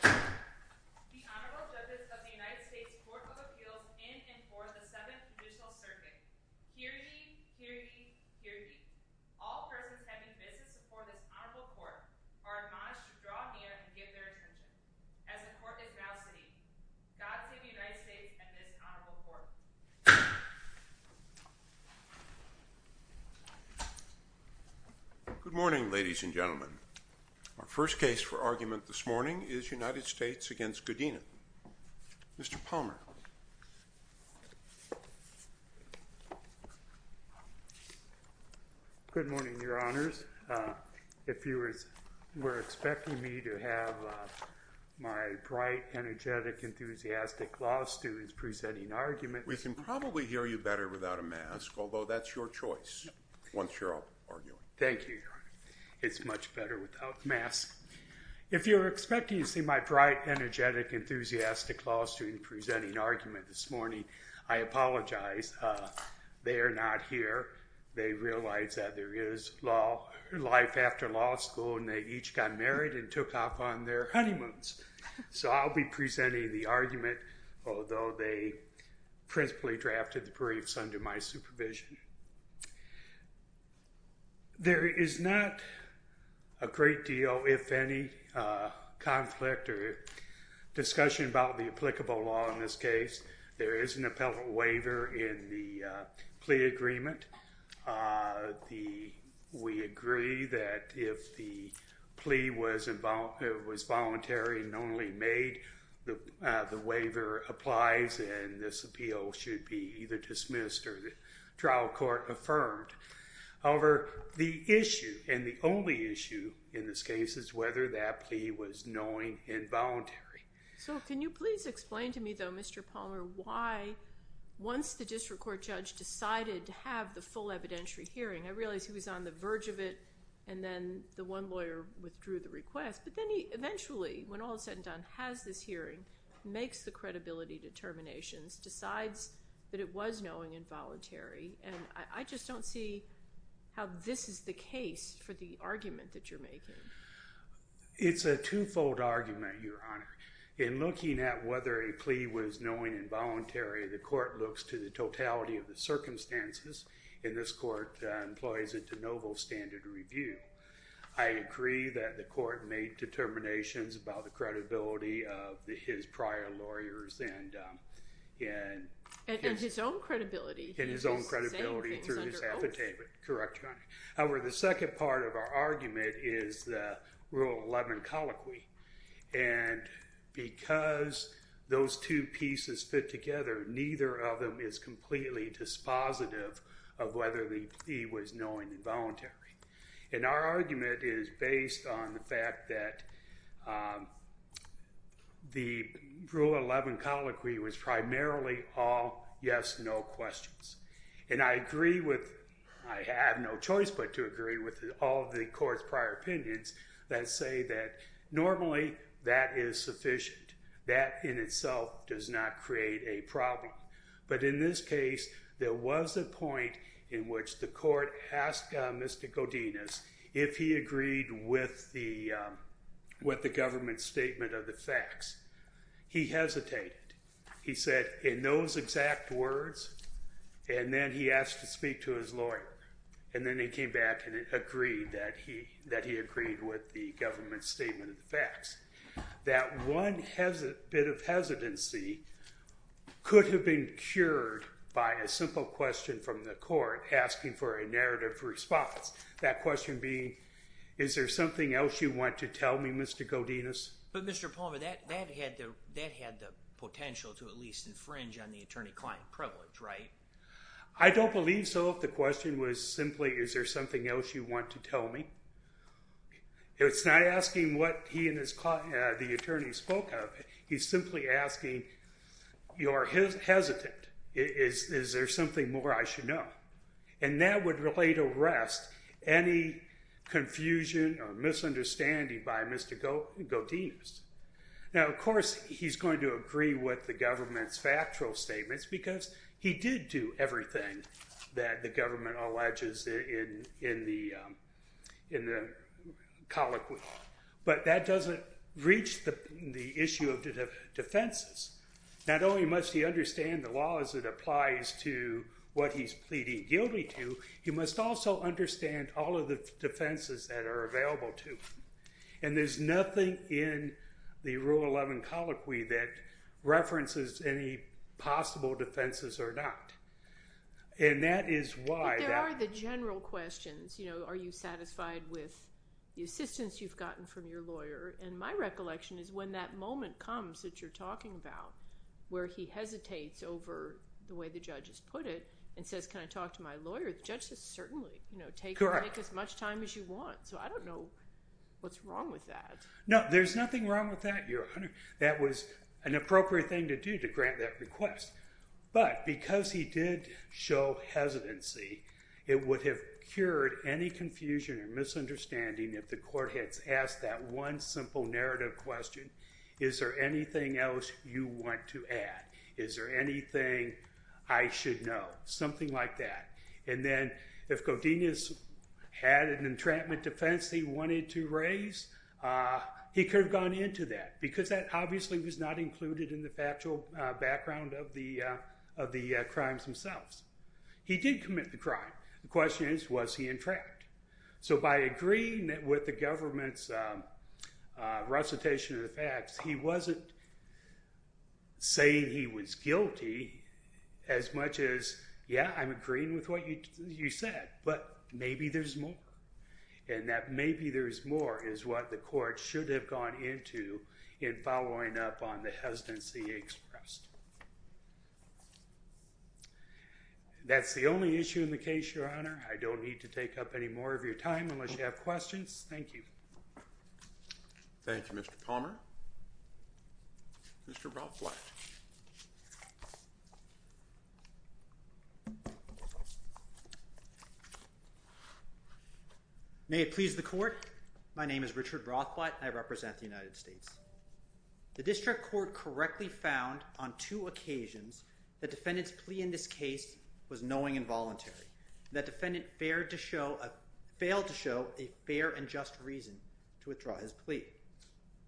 The Honorable Judge of the United States Court of Appeals in and for the 7th Judicial Circuit. Hear ye, hear ye, hear ye. All persons having business before this honorable court are admonished to draw near and give their attention. As the court is now sitting, God save the United States and this honorable court. Good morning, ladies and gentlemen. Our first case for argument this morning is United States v. Adan Godinez. Mr. Palmer. Good morning, your honors. If you were expecting me to have my bright, energetic, enthusiastic law students presenting arguments... We can probably hear you better without a mask, although that's your choice once you're up arguing. Thank you, your honor. It's much better without the mask. If you were expecting to see my bright, energetic, enthusiastic law student presenting argument this morning, I apologize. They are not here. They realize that there is life after law school, and they each got married and took off on their honeymoons. So I'll be presenting the argument, although they principally drafted the briefs under my supervision. There is not a great deal, if any, conflict or discussion about the applicable law in this case. There is an appellate waiver in the plea agreement. We agree that if the plea was voluntary and only made, the waiver applies and this appeal should be either dismissed or the trial court affirmed. However, the issue, and the only issue in this case, is whether that plea was knowing and voluntary. So can you please explain to me, though, Mr. Palmer, why once the district court judge decided to have the full evidentiary hearing, I realize he was on the verge of it, and then the one lawyer withdrew the request, but then he eventually, when all is said and done, has this hearing, makes the credibility determinations, decides that it was knowing and voluntary, and I just don't see how this is the case for the argument that you're making. It's a twofold argument, Your Honor. In looking at whether a plea was knowing and voluntary, the court looks to the totality of the circumstances, and this court employs it to noble standard review. I agree that the court made determinations about the credibility of his prior lawyers and his own credibility through his affidavit. Correct, Your Honor. However, the second part of our argument is the Rule 11 colloquy, and because those two pieces fit together, neither of them is completely dispositive of whether the plea was knowing and voluntary, and our argument is based on the fact that the Rule 11 colloquy was primarily all yes-no questions, and I agree with, I have no choice but to agree with all of the court's prior opinions that say that normally that is sufficient. That in itself does not create a problem, but in this case, there was a point in which the court asked Mr. Godinez if he agreed with the government's statement of the facts. He hesitated. He said, in those exact words, and then he asked to speak to his lawyer, and then he came back and agreed that he agreed with the government's statement of the facts. That one bit of hesitancy could have been cured by a simple question from the court asking for a narrative response, that question being, is there something else you want to tell me, Mr. Godinez? But Mr. Palmer, that had the potential to at least infringe on the attorney-client privilege, right? I don't believe so if the question was simply, is there something else you want to tell me? It's not asking what he and the attorney spoke of. He's simply asking, you're hesitant. Is there something more I should know? And that would relate arrest any confusion or misunderstanding by Mr. Godinez. Now, of course, he's going to agree with the government's factual statements because he did do everything that the government alleges in the colloquy. But that doesn't reach the issue of defenses. Not only must he understand the laws that applies to what he's pleading guilty to, he must also understand all of the defenses that are available to him. And there's nothing in the Rule 11 colloquy that references any possible defenses or not. And that is why that— But there are the general questions. You know, are you satisfied with the assistance you've gotten from your lawyer? And my recollection is when that moment comes that you're talking about where he hesitates over the way the judge has put it and says, can I talk to my lawyer? The judge says, certainly. You know, take as much time as you want. So I don't know what's wrong with that. No, there's nothing wrong with that, Your Honor. That was an appropriate thing to do to grant that request. But because he did show hesitancy, it would have cured any confusion or misunderstanding if the court had asked that one simple narrative question, is there anything else you want to add? Is there anything I should know? Something like that. And then if Godinez had an entrapment defense he wanted to raise, he could have gone into that because that obviously was not included in the factual background of the crimes themselves. He did commit the crime. The question is, was he entrapped? So by agreeing with the government's recitation of the facts, he wasn't saying he was guilty as much as, yeah, I'm agreeing with what you said, but maybe there's more. And that maybe there's more is what the court should have gone into in following up on the hesitancy expressed. That's the only issue in the case, Your Honor. I don't need to take up any more of your time unless you have questions. Thank you. Thank you, Mr. Palmer. Mr. Rothblatt. May it please the court, my name is Richard Rothblatt, and I represent the United States. The district court correctly found on two occasions that defendant's plea in this case was knowing and voluntary, that defendant failed to show a fair and just reason to withdraw his plea.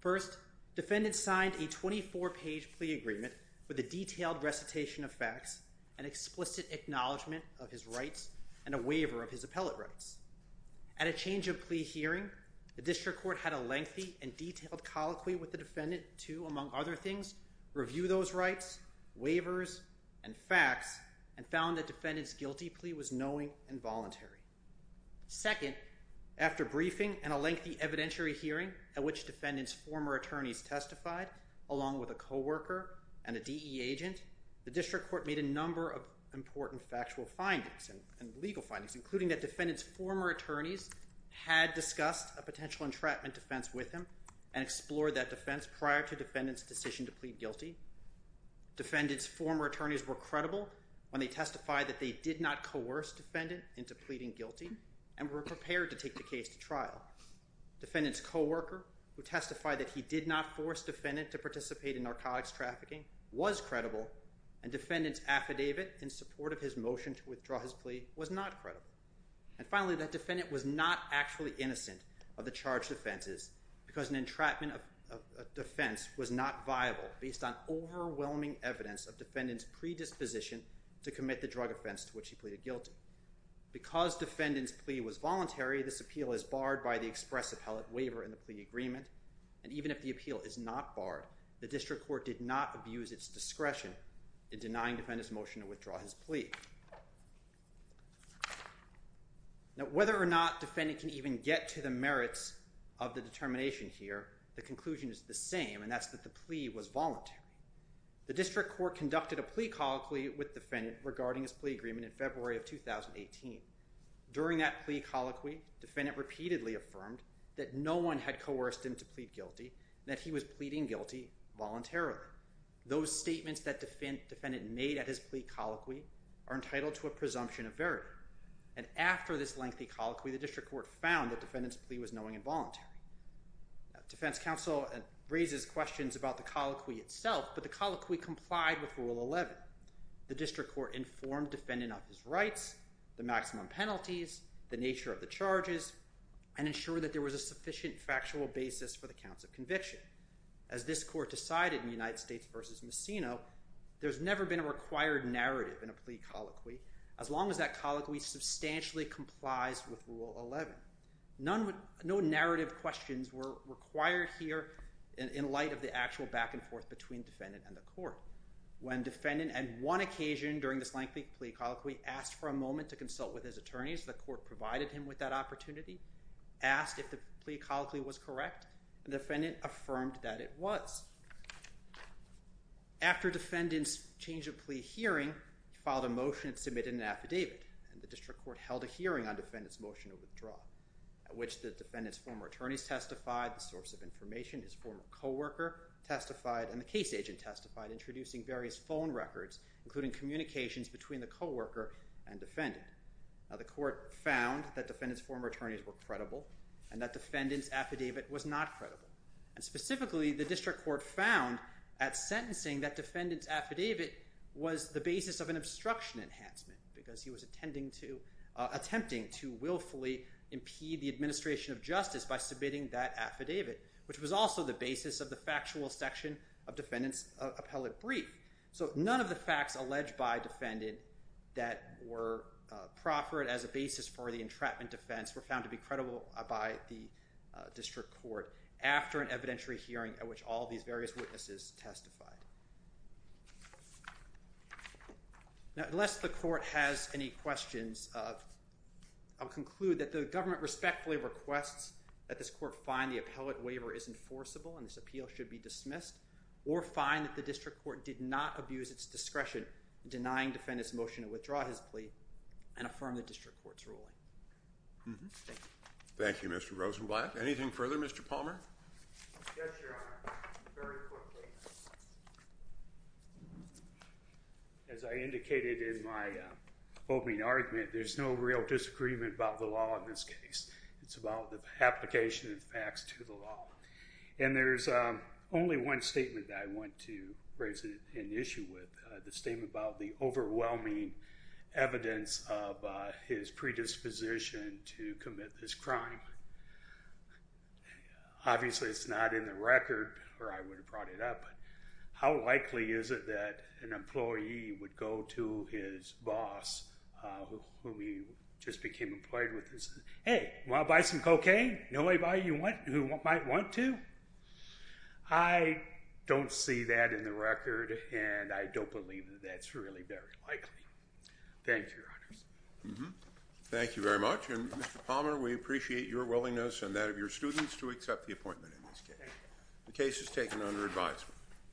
First, defendant signed a 24-page plea agreement with a detailed recitation of facts, an explicit acknowledgement of his rights, and a waiver of his appellate rights. At a change of plea hearing, the district court had a lengthy and detailed colloquy with the defendant to, among other things, review those rights, waivers, and facts, and found that defendant's guilty plea was knowing and voluntary. Second, after briefing and a lengthy evidentiary hearing at which defendant's former attorneys testified, along with a co-worker and a DE agent, the district court made a number of important factual findings and legal findings, including that defendant's former attorneys had discussed a potential entrapment defense with him and explored that defense prior to defendant's decision to plead guilty. Defendant's former attorneys were credible when they testified that they did not coerce defendant into pleading guilty and were prepared to take the case to trial. Defendant's co-worker, who testified that he did not force defendant to participate in narcotics trafficking, was credible, and defendant's affidavit in support of his motion to withdraw his plea was not credible. And finally, that defendant was not actually innocent of the charged offenses because an entrapment defense was not viable based on overwhelming evidence of defendant's predisposition to commit the drug offense to which he pleaded guilty. Because defendant's plea was voluntary, this appeal is barred by the express appellate waiver in the plea agreement, and even if the appeal is not barred, the district court did not abuse its discretion in denying defendant's motion to withdraw his plea. Now, whether or not defendant can even get to the merits of the determination here, the conclusion is the same, and that's that the plea was voluntary. The district court conducted a plea colloquy with defendant regarding his plea agreement in February of 2018. During that plea colloquy, defendant repeatedly affirmed that no one had coerced him to plead guilty, and that he was pleading guilty voluntarily. Those statements that defendant made at his plea colloquy are entitled to a presumption of verity. And after this lengthy colloquy, the district court found that defendant's plea was knowing and voluntary. Defense counsel raises questions about the colloquy itself, but the colloquy complied with Rule 11. The district court informed defendant of his rights, the maximum penalties, the nature of the charges, and ensured that there was a sufficient factual basis for the counts of conviction. As this court decided in United States v. Messino, there's never been a required narrative in a plea colloquy as long as that colloquy substantially complies with Rule 11. No narrative questions were required here in light of the actual back-and-forth between defendant and the court. When defendant, at one occasion during this lengthy plea colloquy, asked for a moment to consult with his attorneys, the court provided him with that opportunity, asked if the plea colloquy was correct, and defendant affirmed that it was. After defendant's change of plea hearing, he filed a motion and submitted an affidavit, and the district court held a hearing on defendant's motion of withdrawal, at which the defendant's former attorneys testified, the source of information, his former co-worker testified, and the case agent testified, introducing various phone records, including communications between the co-worker and defendant. The court found that defendant's former attorneys were credible and that defendant's affidavit was not credible. Specifically, the district court found, at sentencing, that defendant's affidavit was the basis of an obstruction enhancement because he was attempting to willfully impede the administration of justice by submitting that affidavit, which was also the basis of the factual section of defendant's appellate brief. So none of the facts alleged by defendant that were proffered as a basis for the entrapment defense were found to be credible by the district court after an evidentiary hearing at which all these various witnesses testified. Unless the court has any questions, I'll conclude that the government respectfully requests that this court find the appellate waiver is enforceable and this appeal should be dismissed, or find that the district court did not abuse its discretion in denying defendant's motion to withdraw his plea and affirm the district court's ruling. Thank you. Thank you, Mr. Rosenblatt. Anything further, Mr. Palmer? Yes, Your Honor. Very quickly. As I indicated in my opening argument, there's no real disagreement about the law in this case. It's about the application of facts to the law. And there's only one statement that I want to raise an issue with, the statement about the overwhelming evidence of his predisposition to commit this crime. Obviously, it's not in the record, or I would have brought it up, but how likely is it that an employee would go to his boss, whom he just became employed with, and say, hey, want to buy some cocaine? Know anybody who might want to? I don't see that in the record, and I don't believe that that's really very likely. Thank you, Your Honors. Thank you very much. And, Mr. Palmer, we appreciate your willingness and that of your students to accept the appointment in this case. The case is taken under advisement.